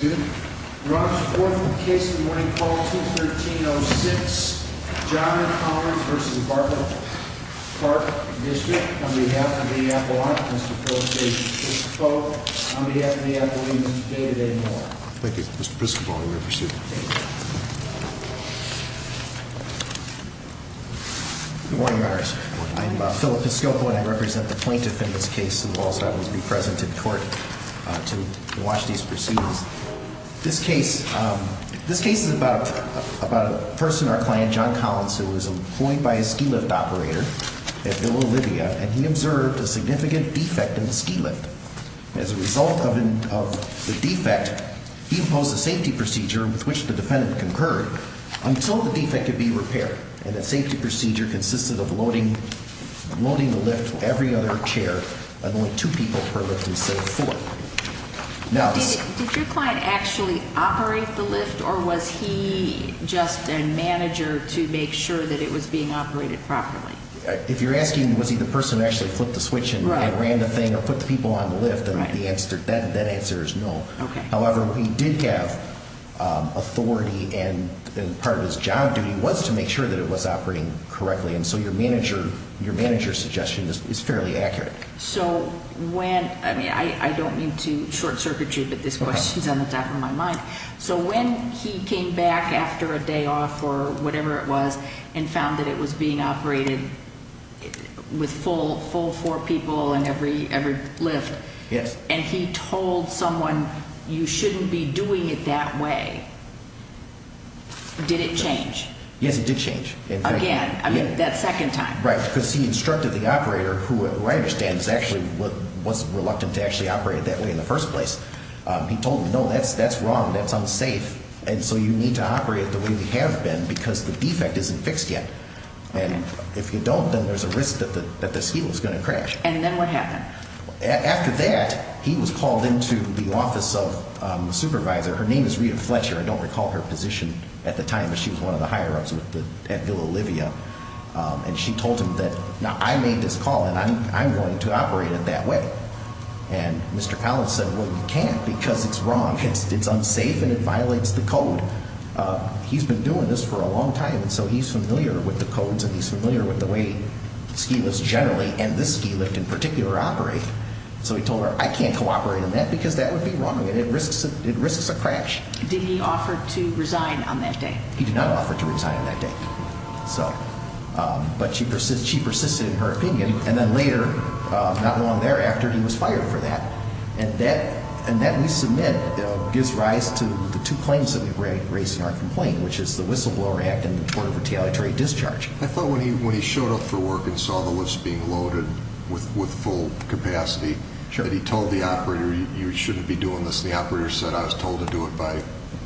on behalf of the Apple, I'm Mr. Philip Piscopo. On behalf of the Apple, I'm Mr. David A. Miller. Thank you. Mr. Piscopo, you may proceed. Good morning, Your Honor. I am Philip Piscopo and I represent the plaintiff in this case. Mr. Walsh, I will be present in court to watch these proceedings. This case is about a person, our client, John Collins, who was employed by a ski lift operator at Villa Olivia and he observed a significant defect in the ski lift. As a result of the defect, he imposed a safety procedure with which the defendant concurred until the defect could be repaired. And that safety procedure consisted of loading the lift with every other chair and only two people per lift instead of four. Did your client actually operate the lift or was he just a manager to make sure that it was being operated properly? If you're asking was he the person who actually flipped the switch and ran the thing or put the people on the lift, that answer is no. However, he did have authority and part of his job duty was to make sure that it was operating correctly. And so your manager's suggestion is fairly accurate. I don't mean to short circuit you, but this question is on the top of my mind. So when he came back after a day off or whatever it was and found that it was being operated with full four people in every lift and he told someone you shouldn't be doing it that way, did it change? Yes, it did change. Again, I mean that second time. Right, because he instructed the operator who I understand was reluctant to actually operate it that way in the first place. He told him, no, that's wrong. That's unsafe. And so you need to operate it the way we have been because the defect isn't fixed yet. And if you don't, then there's a risk that this heel is going to crash. And then what happened? After that, he was called into the office of the supervisor. Her name is Rita Fletcher. I don't recall her position at the time, but she was one of the higher-ups at Villa Olivia. And she told him that, now, I made this call and I'm going to operate it that way. And Mr. Collins said, well, you can't because it's wrong. It's unsafe and it violates the code. He's been doing this for a long time, and so he's familiar with the codes and he's familiar with the way ski lifts generally and this ski lift in particular operate. So he told her, I can't cooperate on that because that would be wrong and it risks a crash. Did he offer to resign on that day? He did not offer to resign on that day. But she persisted in her opinion, and then later, not long thereafter, he was fired for that. And that, we submit, gives rise to the two claims that we raise in our complaint, which is the Whistleblower Act and the Tort of Retaliatory Discharge. I thought when he showed up for work and saw the lifts being loaded with full capacity that he told the operator, you shouldn't be doing this. The operator said, I was told to do it by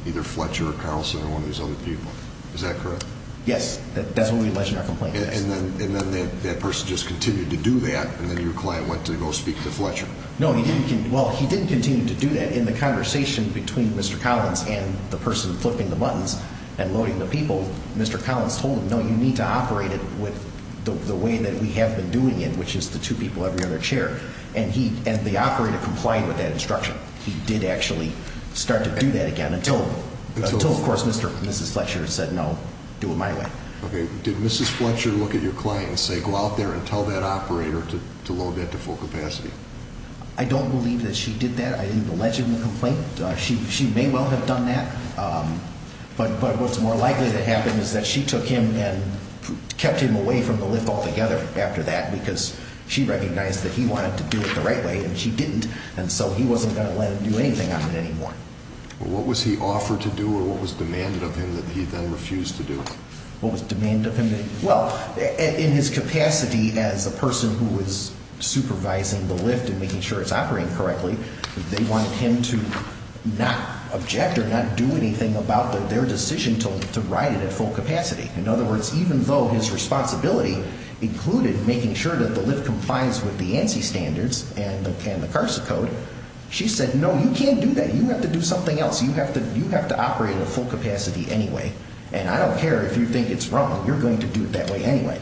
either Fletcher or Carlson or one of these other people. Is that correct? Yes. That's what we alleged in our complaint. And then that person just continued to do that and then your client went to go speak to Fletcher. No, he didn't. Well, he didn't continue to do that. In the conversation between Mr. Collins and the person flipping the buttons and loading the people, Mr. Collins told him, no, you need to operate it with the way that we have been doing it, which is the two people every other chair. And the operator complied with that instruction. But he did actually start to do that again until, of course, Mr. and Mrs. Fletcher said, no, do it my way. Okay. Did Mrs. Fletcher look at your client and say, go out there and tell that operator to load that to full capacity? I don't believe that she did that. I didn't allege in the complaint. She may well have done that. But what's more likely to happen is that she took him and kept him away from the lift altogether after that because she recognized that he wanted to do it the right way and she didn't. And so he wasn't going to let her do anything on it anymore. What was he offered to do or what was demanded of him that he then refused to do? What was demanded of him? Well, in his capacity as a person who was supervising the lift and making sure it's operating correctly, they wanted him to not object or not do anything about their decision to ride it at full capacity. In other words, even though his responsibility included making sure that the lift complies with the ANSI standards and the CARSA code, she said, no, you can't do that. You have to do something else. You have to operate at full capacity anyway. And I don't care if you think it's wrong. You're going to do it that way anyway.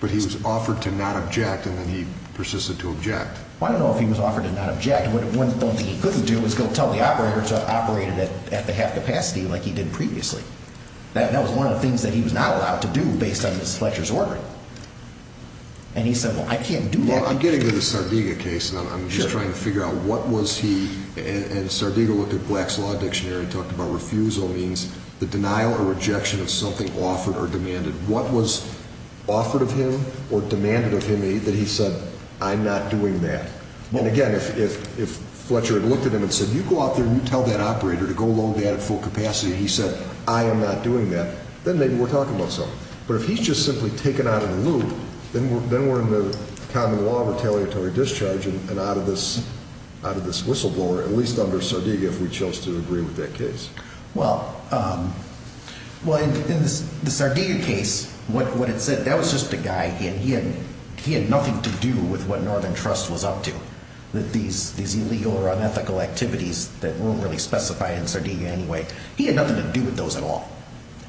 But he was offered to not object, and then he persisted to object. Well, I don't know if he was offered to not object. One thing he couldn't do was go tell the operator to operate it at the half capacity like he did previously. That was one of the things that he was not allowed to do based on Fletcher's order. And he said, well, I can't do that. Well, I'm getting to the Sardiga case, and I'm just trying to figure out what was he – and Sardiga looked at Black's Law Dictionary and talked about refusal means the denial or rejection of something offered or demanded. What was offered of him or demanded of him that he said, I'm not doing that? And again, if Fletcher had looked at him and said, you go out there and you tell that operator to go load that at full capacity, and he said, I am not doing that, then maybe we're talking about something. But if he's just simply taken out of the loop, then we're in the common law retaliatory discharge and out of this whistleblower, at least under Sardiga if we chose to agree with that case. Well, in the Sardiga case, what it said, that was just a guy, and he had nothing to do with what Northern Trust was up to, these illegal or unethical activities that weren't really specified in Sardiga anyway. He had nothing to do with those at all.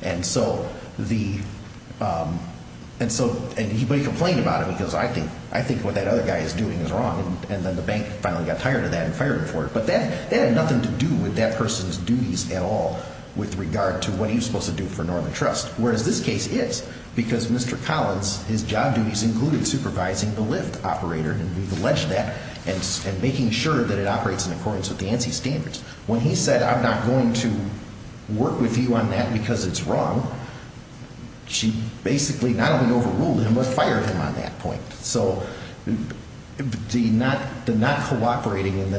And so he complained about it because I think what that other guy is doing is wrong, and then the bank finally got tired of that and fired him for it. But that had nothing to do with that person's duties at all with regard to what he was supposed to do for Northern Trust. Whereas this case is, because Mr. Collins, his job duties included supervising the lift operator, and we've alleged that, and making sure that it operates in accordance with the ANSI standards. When he said, I'm not going to work with you on that because it's wrong, she basically not only overruled him, but fired him on that point. So the not cooperating and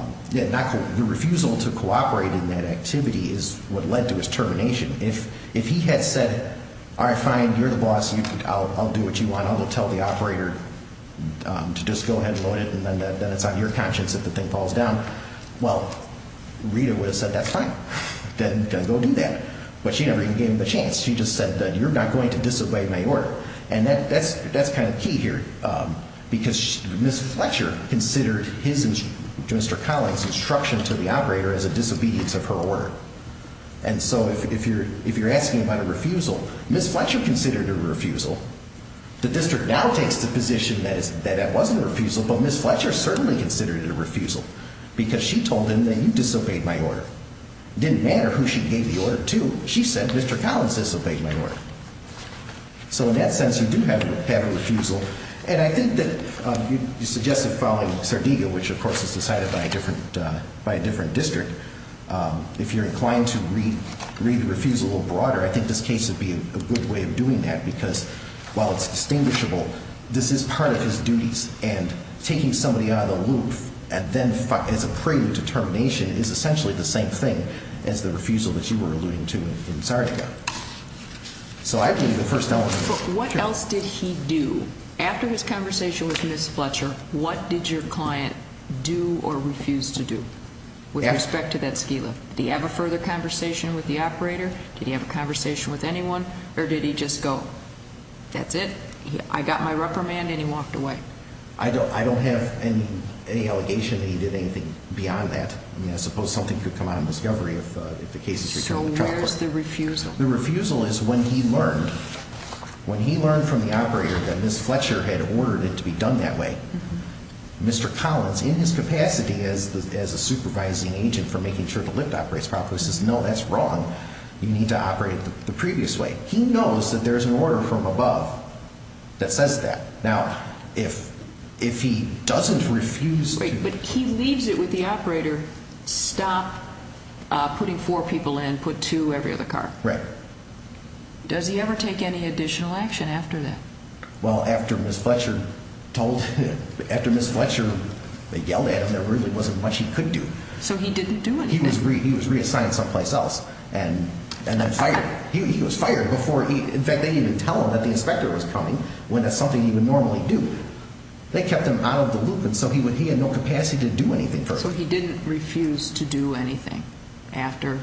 the refusal to cooperate in that activity is what led to his termination. If he had said, all right, fine, you're the boss. I'll do what you want. I'll go tell the operator to just go ahead and load it, and then it's on your conscience if the thing falls down. Well, Rita would have said, that's fine. Then go do that. But she never even gave him the chance. She just said, you're not going to disobey my order. And that's kind of key here because Ms. Fletcher considered his, Mr. Collins' instruction to the operator as a disobedience of her order. And so if you're asking about a refusal, Ms. Fletcher considered it a refusal. The district now takes the position that it wasn't a refusal, but Ms. Fletcher certainly considered it a refusal because she told him that you disobeyed my order. It didn't matter who she gave the order to. She said, Mr. Collins disobeyed my order. So in that sense, you do have a refusal. And I think that you suggested following Sardega, which of course is decided by a different district. If you're inclined to read the refusal a little broader, I think this case would be a good way of doing that because while it's distinguishable, this is part of his duties, and taking somebody out of the loop and then as a prelude to termination is essentially the same thing as the refusal that you were alluding to in Sardega. So I believe the first element is true. But what else did he do? After his conversation with Ms. Fletcher, what did your client do or refuse to do with respect to that ski lift? Did he have a further conversation with the operator? Did he have a conversation with anyone? Or did he just go, that's it? I got my reprimand, and he walked away? I don't have any allegation that he did anything beyond that. I mean, I suppose something could come out of discovery if the case is returned to the trial court. So where's the refusal? The refusal is when he learned, when he learned from the operator that Ms. Fletcher had ordered it to be done that way, Mr. Collins, in his capacity as a supervising agent for making sure the lift operates properly, says, no, that's wrong. You need to operate it the previous way. He knows that there's an order from above that says that. Now, if he doesn't refuse to- But he leaves it with the operator, stop putting four people in, put two every other car. Right. Does he ever take any additional action after that? Well, after Ms. Fletcher told, after Ms. Fletcher yelled at him, there really wasn't much he could do. So he didn't do anything. He was reassigned someplace else and then fired. He was fired before, in fact, they didn't even tell him that the inspector was coming when that's something he would normally do. They kept him out of the loop, and so he had no capacity to do anything further. So he didn't refuse to do anything after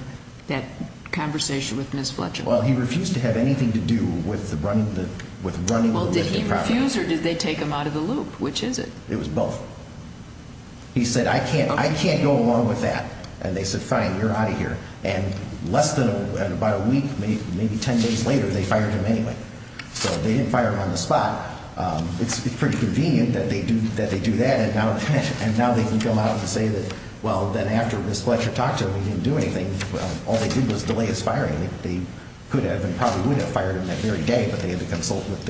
that conversation with Ms. Fletcher? Well, he refused to have anything to do with running the lift properly. Well, did he refuse or did they take him out of the loop? Which is it? It was both. He said, I can't go along with that. And they said, fine, you're out of here. And less than about a week, maybe 10 days later, they fired him anyway. So they didn't fire him on the spot. It's pretty convenient that they do that. And now they can come out and say that, well, then after Ms. Fletcher talked to him, he didn't do anything. Well, all they did was delay his firing. They could have and probably would have fired him that very day, but they had to consult with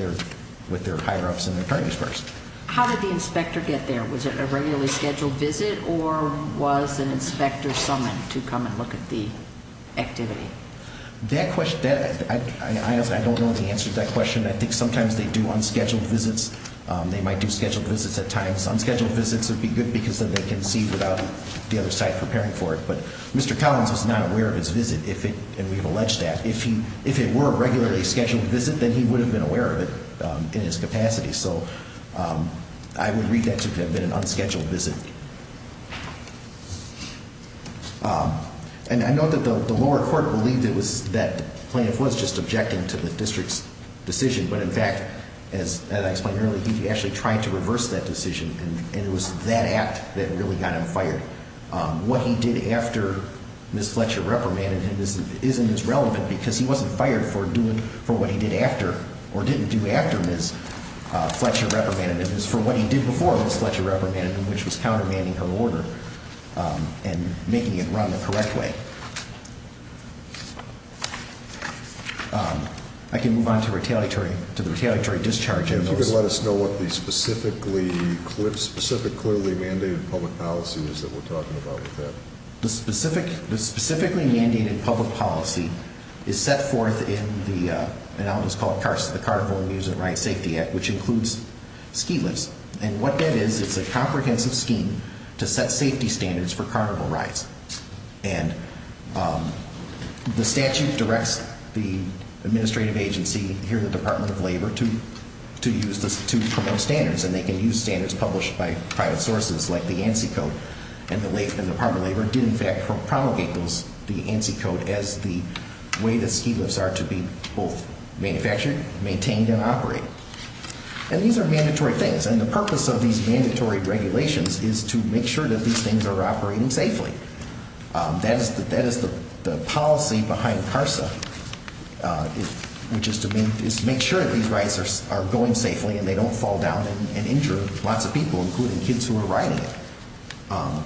their higher-ups and attorneys first. How did the inspector get there? Was it a regularly scheduled visit or was an inspector summoned to come and look at the activity? That question, I don't know the answer to that question. I think sometimes they do unscheduled visits. They might do scheduled visits at times. Unscheduled visits would be good because then they can see without the other side preparing for it. But Mr. Collins was not aware of his visit, and we've alleged that. If it were a regularly scheduled visit, then he would have been aware of it in his capacity. So I would read that to have been an unscheduled visit. And I note that the lower court believed it was that plaintiff was just objecting to the district's decision. But, in fact, as I explained earlier, he actually tried to reverse that decision, and it was that act that really got him fired. What he did after Ms. Fletcher reprimanded him isn't as relevant because he wasn't fired for doing what he did after or didn't do after Ms. Fletcher reprimanded him. It's for what he did before Ms. Fletcher reprimanded him, which was countermanding her order and making it run the correct way. I can move on to the retaliatory discharge. If you could let us know what the specifically mandated public policy is that we're talking about with that. The specifically mandated public policy is set forth in what is called the Carnival Amusement Rides Safety Act, which includes ski lifts. And what that is, it's a comprehensive scheme to set safety standards for carnival rides. And the statute directs the administrative agency, here the Department of Labor, to use this to promote standards. And they can use standards published by private sources, like the ANSI Code. And the Department of Labor did, in fact, promulgate the ANSI Code as the way that ski lifts are to be both manufactured, maintained, and operated. And these are mandatory things. And the purpose of these mandatory regulations is to make sure that these things are operating safely. That is the policy behind CARSA, which is to make sure that these rides are going safely and they don't fall down and injure lots of people, including kids who are riding it.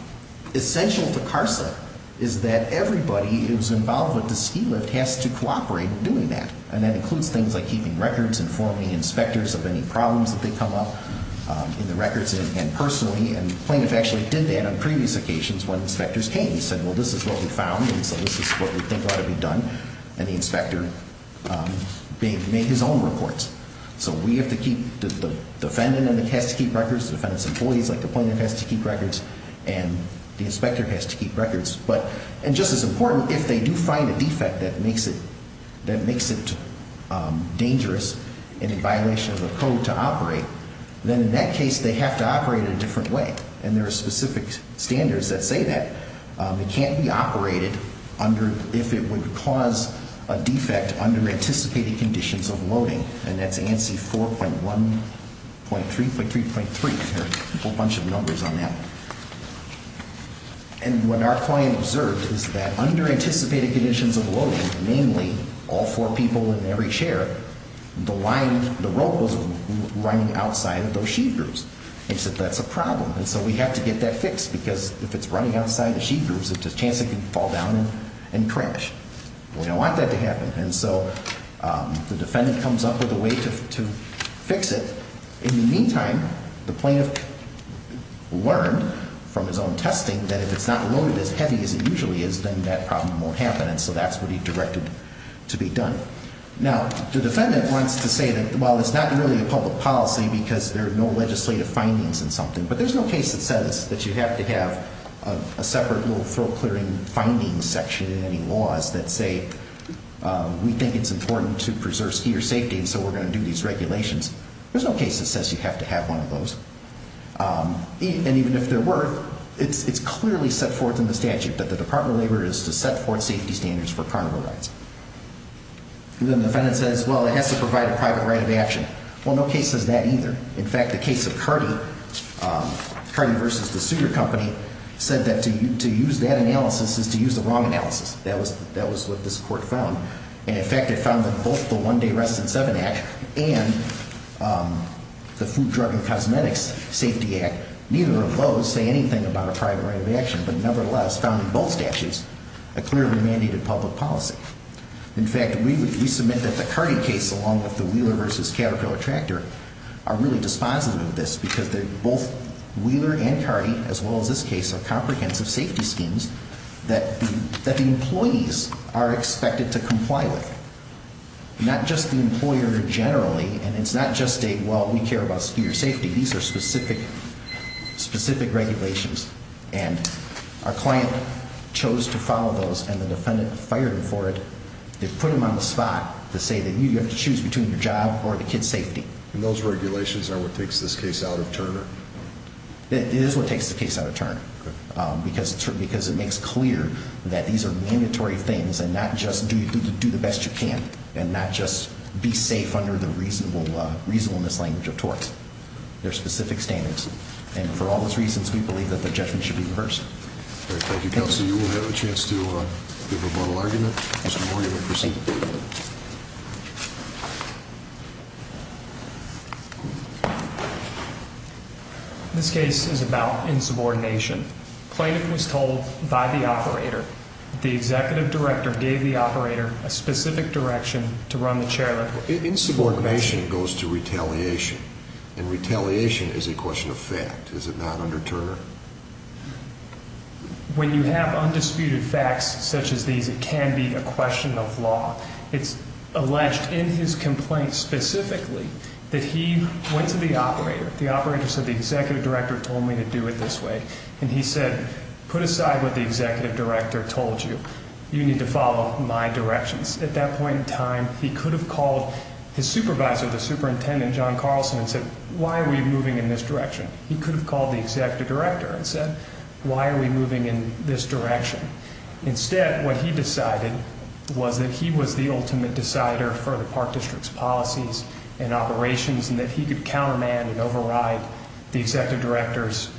Essential to CARSA is that everybody who's involved with the ski lift has to cooperate in doing that. And that includes things like keeping records, informing inspectors of any problems that may come up in the records, and personally. And plaintiffs actually did that on previous occasions when inspectors came and said, well, this is what we found, and so this is what we think ought to be done. And the inspector made his own reports. So we have to keep, the defendant has to keep records, the defendant's employees, like the plaintiff, has to keep records, and the inspector has to keep records. And just as important, if they do find a defect that makes it dangerous and in violation of the code to operate, then in that case they have to operate in a different way. And there are specific standards that say that. It can't be operated if it would cause a defect under anticipated conditions of loading. And that's ANSI 4.1, .3, .3, .3, there are a whole bunch of numbers on that. And what our client observed is that under anticipated conditions of loading, namely all four people in every chair, the rope was running outside of those sheet grooves. And he said, that's a problem. And so we have to get that fixed because if it's running outside the sheet grooves, there's a chance it could fall down and crash. We don't want that to happen. And so the defendant comes up with a way to fix it. In the meantime, the plaintiff learned from his own testing that if it's not loaded as heavy as it usually is, then that problem won't happen. And so that's what he directed to be done. Now, the defendant wants to say that, well, it's not really a public policy because there are no legislative findings in something. But there's no case that says that you have to have a separate little throw-clearing findings section in any laws that say, we think it's important to preserve skier safety, and so we're going to do these regulations. There's no case that says you have to have one of those. And even if there were, it's clearly set forth in the statute that the Department of Labor is to set forth safety standards for cargo rides. And then the defendant says, well, it has to provide a private right of action. Well, no case says that either. In fact, the case of Cardi, Cardi v. The Sugar Company, said that to use that analysis is to use the wrong analysis. That was what this court found. And, in fact, it found that both the One Day Residence Seven Act and the Food, Drug, and Cosmetics Safety Act, neither of those say anything about a private right of action. But, nevertheless, found in both statutes a clearly mandated public policy. In fact, we submit that the Cardi case, along with the Wheeler v. Caterpillar Tractor, are really dispositive of this because both Wheeler and Cardi, as well as this case, are comprehensive safety schemes that the employees are expected to comply with. Not just the employer generally, and it's not just a, well, we care about your safety. These are specific regulations. And our client chose to follow those, and the defendant fired him for it. They put him on the spot to say that you have to choose between your job or the kid's safety. And those regulations are what takes this case out of Turner? It is what takes the case out of Turner. Because it makes clear that these are mandatory things, and not just do the best you can. And not just be safe under the reasonableness language of torts. They're specific standards. And for all those reasons, we believe that the judgment should be reversed. Thank you, Counselor. You will have a chance to give a final argument. Mr. Morgan will proceed. This case is about insubordination. Claimant was told by the operator the executive director gave the operator a specific direction to run the chair. Insubordination goes to retaliation, and retaliation is a question of fact. Is it not under Turner? When you have undisputed facts such as these, it can be a question of law. It's alleged in his complaint specifically that he went to the operator. The operator said, the executive director told me to do it this way. And he said, put aside what the executive director told you. You need to follow my directions. At that point in time, he could have called his supervisor, the superintendent, John Carlson, and said, why are we moving in this direction? He could have called the executive director and said, why are we moving in this direction? Instead, what he decided was that he was the ultimate decider for the park district's policies and operations and that he could countermand and override the executive director's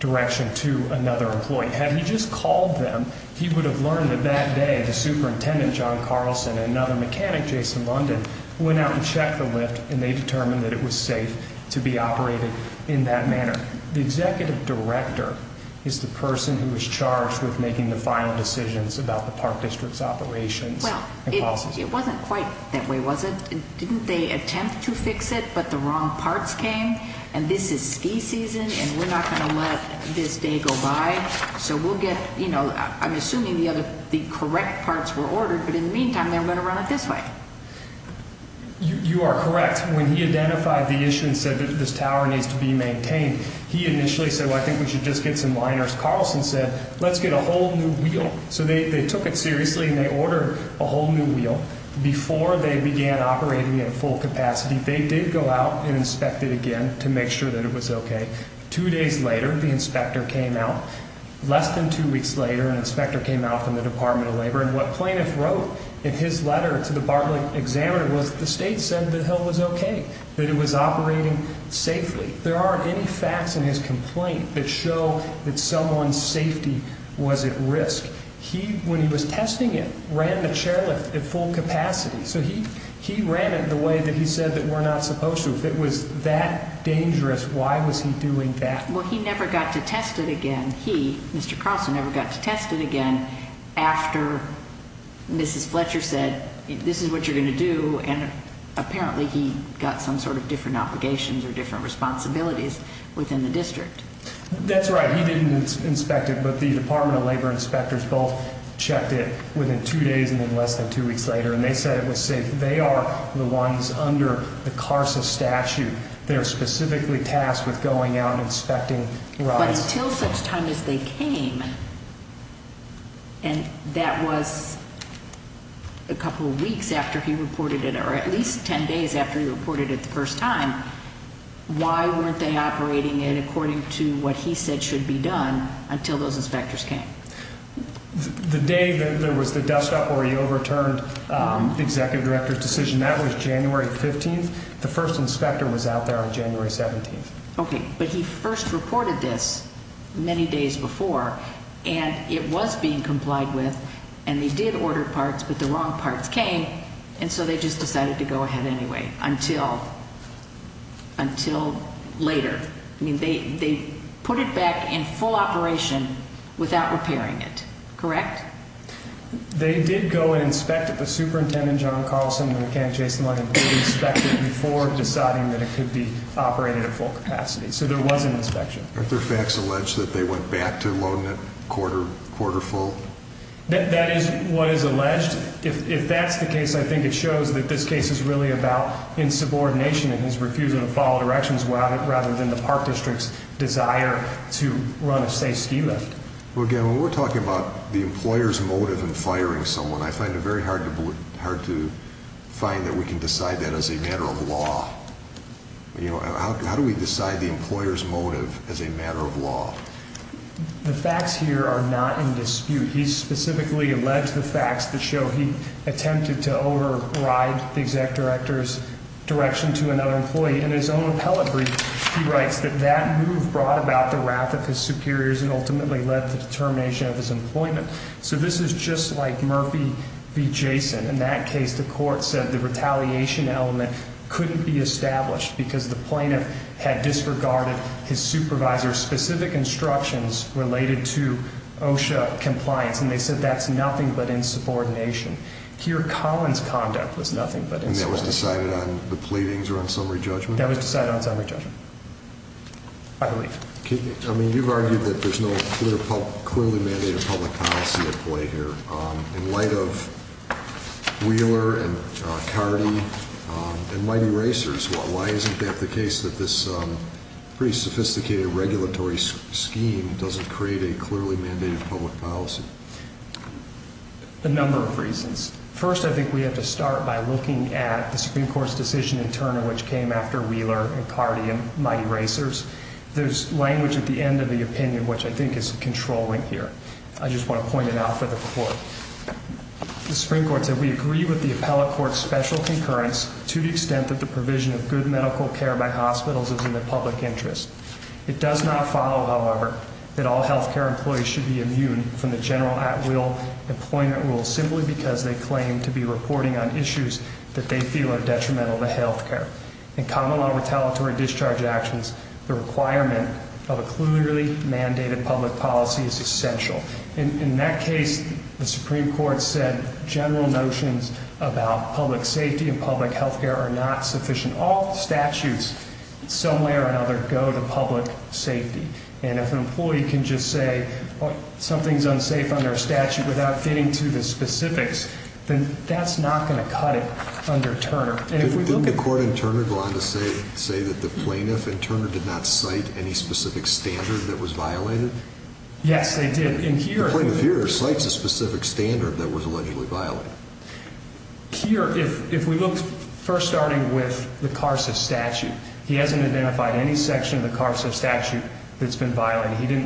direction to another employee. Had he just called them, he would have learned that that day the superintendent, John Carlson, and another mechanic, Jason London, went out and checked the lift, and they determined that it was safe to be operated in that manner. The executive director is the person who is charged with making the final decisions about the park district's operations and policies. Well, it wasn't quite that way, was it? Didn't they attempt to fix it, but the wrong parts came? And this is ski season, and we're not going to let this day go by. So we'll get, you know, I'm assuming the correct parts were ordered, but in the meantime, they're going to run it this way. You are correct. When he identified the issue and said that this tower needs to be maintained, he initially said, well, I think we should just get some liners. Carlson said, let's get a whole new wheel. So they took it seriously, and they ordered a whole new wheel. Before they began operating it at full capacity, they did go out and inspect it again to make sure that it was okay. Two days later, the inspector came out. Less than two weeks later, an inspector came out from the Department of Labor. And what plaintiff wrote in his letter to the Bartlett examiner was the state said the hill was okay, that it was operating safely. There aren't any facts in his complaint that show that someone's safety was at risk. He, when he was testing it, ran the chairlift at full capacity. So he ran it the way that he said that we're not supposed to. If it was that dangerous, why was he doing that? Well, he never got to test it again. He, Mr. Carlson, never got to test it again after Mrs. Fletcher said this is what you're going to do, and apparently he got some sort of different obligations or different responsibilities within the district. That's right. He didn't inspect it, but the Department of Labor inspectors both checked it within two days and then less than two weeks later, and they said it was safe. They are the ones under the CARSA statute. They're specifically tasked with going out and inspecting rides. But until such time as they came, and that was a couple of weeks after he reported it or at least 10 days after he reported it the first time, why weren't they operating it according to what he said should be done until those inspectors came? The day that there was the dustup where he overturned the executive director's decision, that was January 15th. The first inspector was out there on January 17th. Okay, but he first reported this many days before, and it was being complied with, and they did order parts, but the wrong parts came, and so they just decided to go ahead anyway until later. I mean, they put it back in full operation without repairing it, correct? They did go and inspect it. The superintendent, John Carlson, and the mechanic, Jason Lundin, did inspect it before deciding that it could be operated at full capacity, so there was an inspection. Aren't there facts alleged that they went back to loading it quarter full? That is what is alleged. If that's the case, I think it shows that this case is really about insubordination and his refusal to follow directions rather than the park district's desire to run a safe ski lift. Well, again, when we're talking about the employer's motive in firing someone, I find it very hard to find that we can decide that as a matter of law. How do we decide the employer's motive as a matter of law? The facts here are not in dispute. He specifically alleged the facts that show he attempted to override the executive director's direction to another employee. In his own appellate brief, he writes that that move brought about the wrath of his superiors and ultimately led to the termination of his employment. So this is just like Murphy v. Jason. In that case, the court said the retaliation element couldn't be established because the plaintiff had disregarded his supervisor's specific instructions related to OSHA compliance, and they said that's nothing but insubordination. Here, Collins' conduct was nothing but insubordination. And that was decided on the pleadings or on summary judgment? That was decided on summary judgment, I believe. I mean, you've argued that there's no clearly mandated public policy at play here. In light of Wheeler and Cardi and Mighty Racers, why isn't that the case that this pretty sophisticated regulatory scheme doesn't create a clearly mandated public policy? A number of reasons. First, I think we have to start by looking at the Supreme Court's decision in Turner, which came after Wheeler and Cardi and Mighty Racers. There's language at the end of the opinion, which I think is controlling here. I just want to point it out for the court. The Supreme Court said we agree with the appellate court's special concurrence to the extent that the provision of good medical care by hospitals is in the public interest. It does not follow, however, that all health care employees should be immune from the general at-will employment rules simply because they claim to be reporting on issues that they feel are detrimental to health care. In common law retaliatory discharge actions, the requirement of a clearly mandated public policy is essential. In that case, the Supreme Court said general notions about public safety and public health care are not sufficient. All statutes, in some way or another, go to public safety. And if an employee can just say something's unsafe under a statute without getting to the specifics, then that's not going to cut it under Turner. Didn't the court in Turner go on to say that the plaintiff in Turner did not cite any specific standard that was violated? Yes, they did. The plaintiff here cites a specific standard that was allegedly violated. Here, if we look first starting with the CARSA statute, he hasn't identified any section of the CARSA statute that's been violated.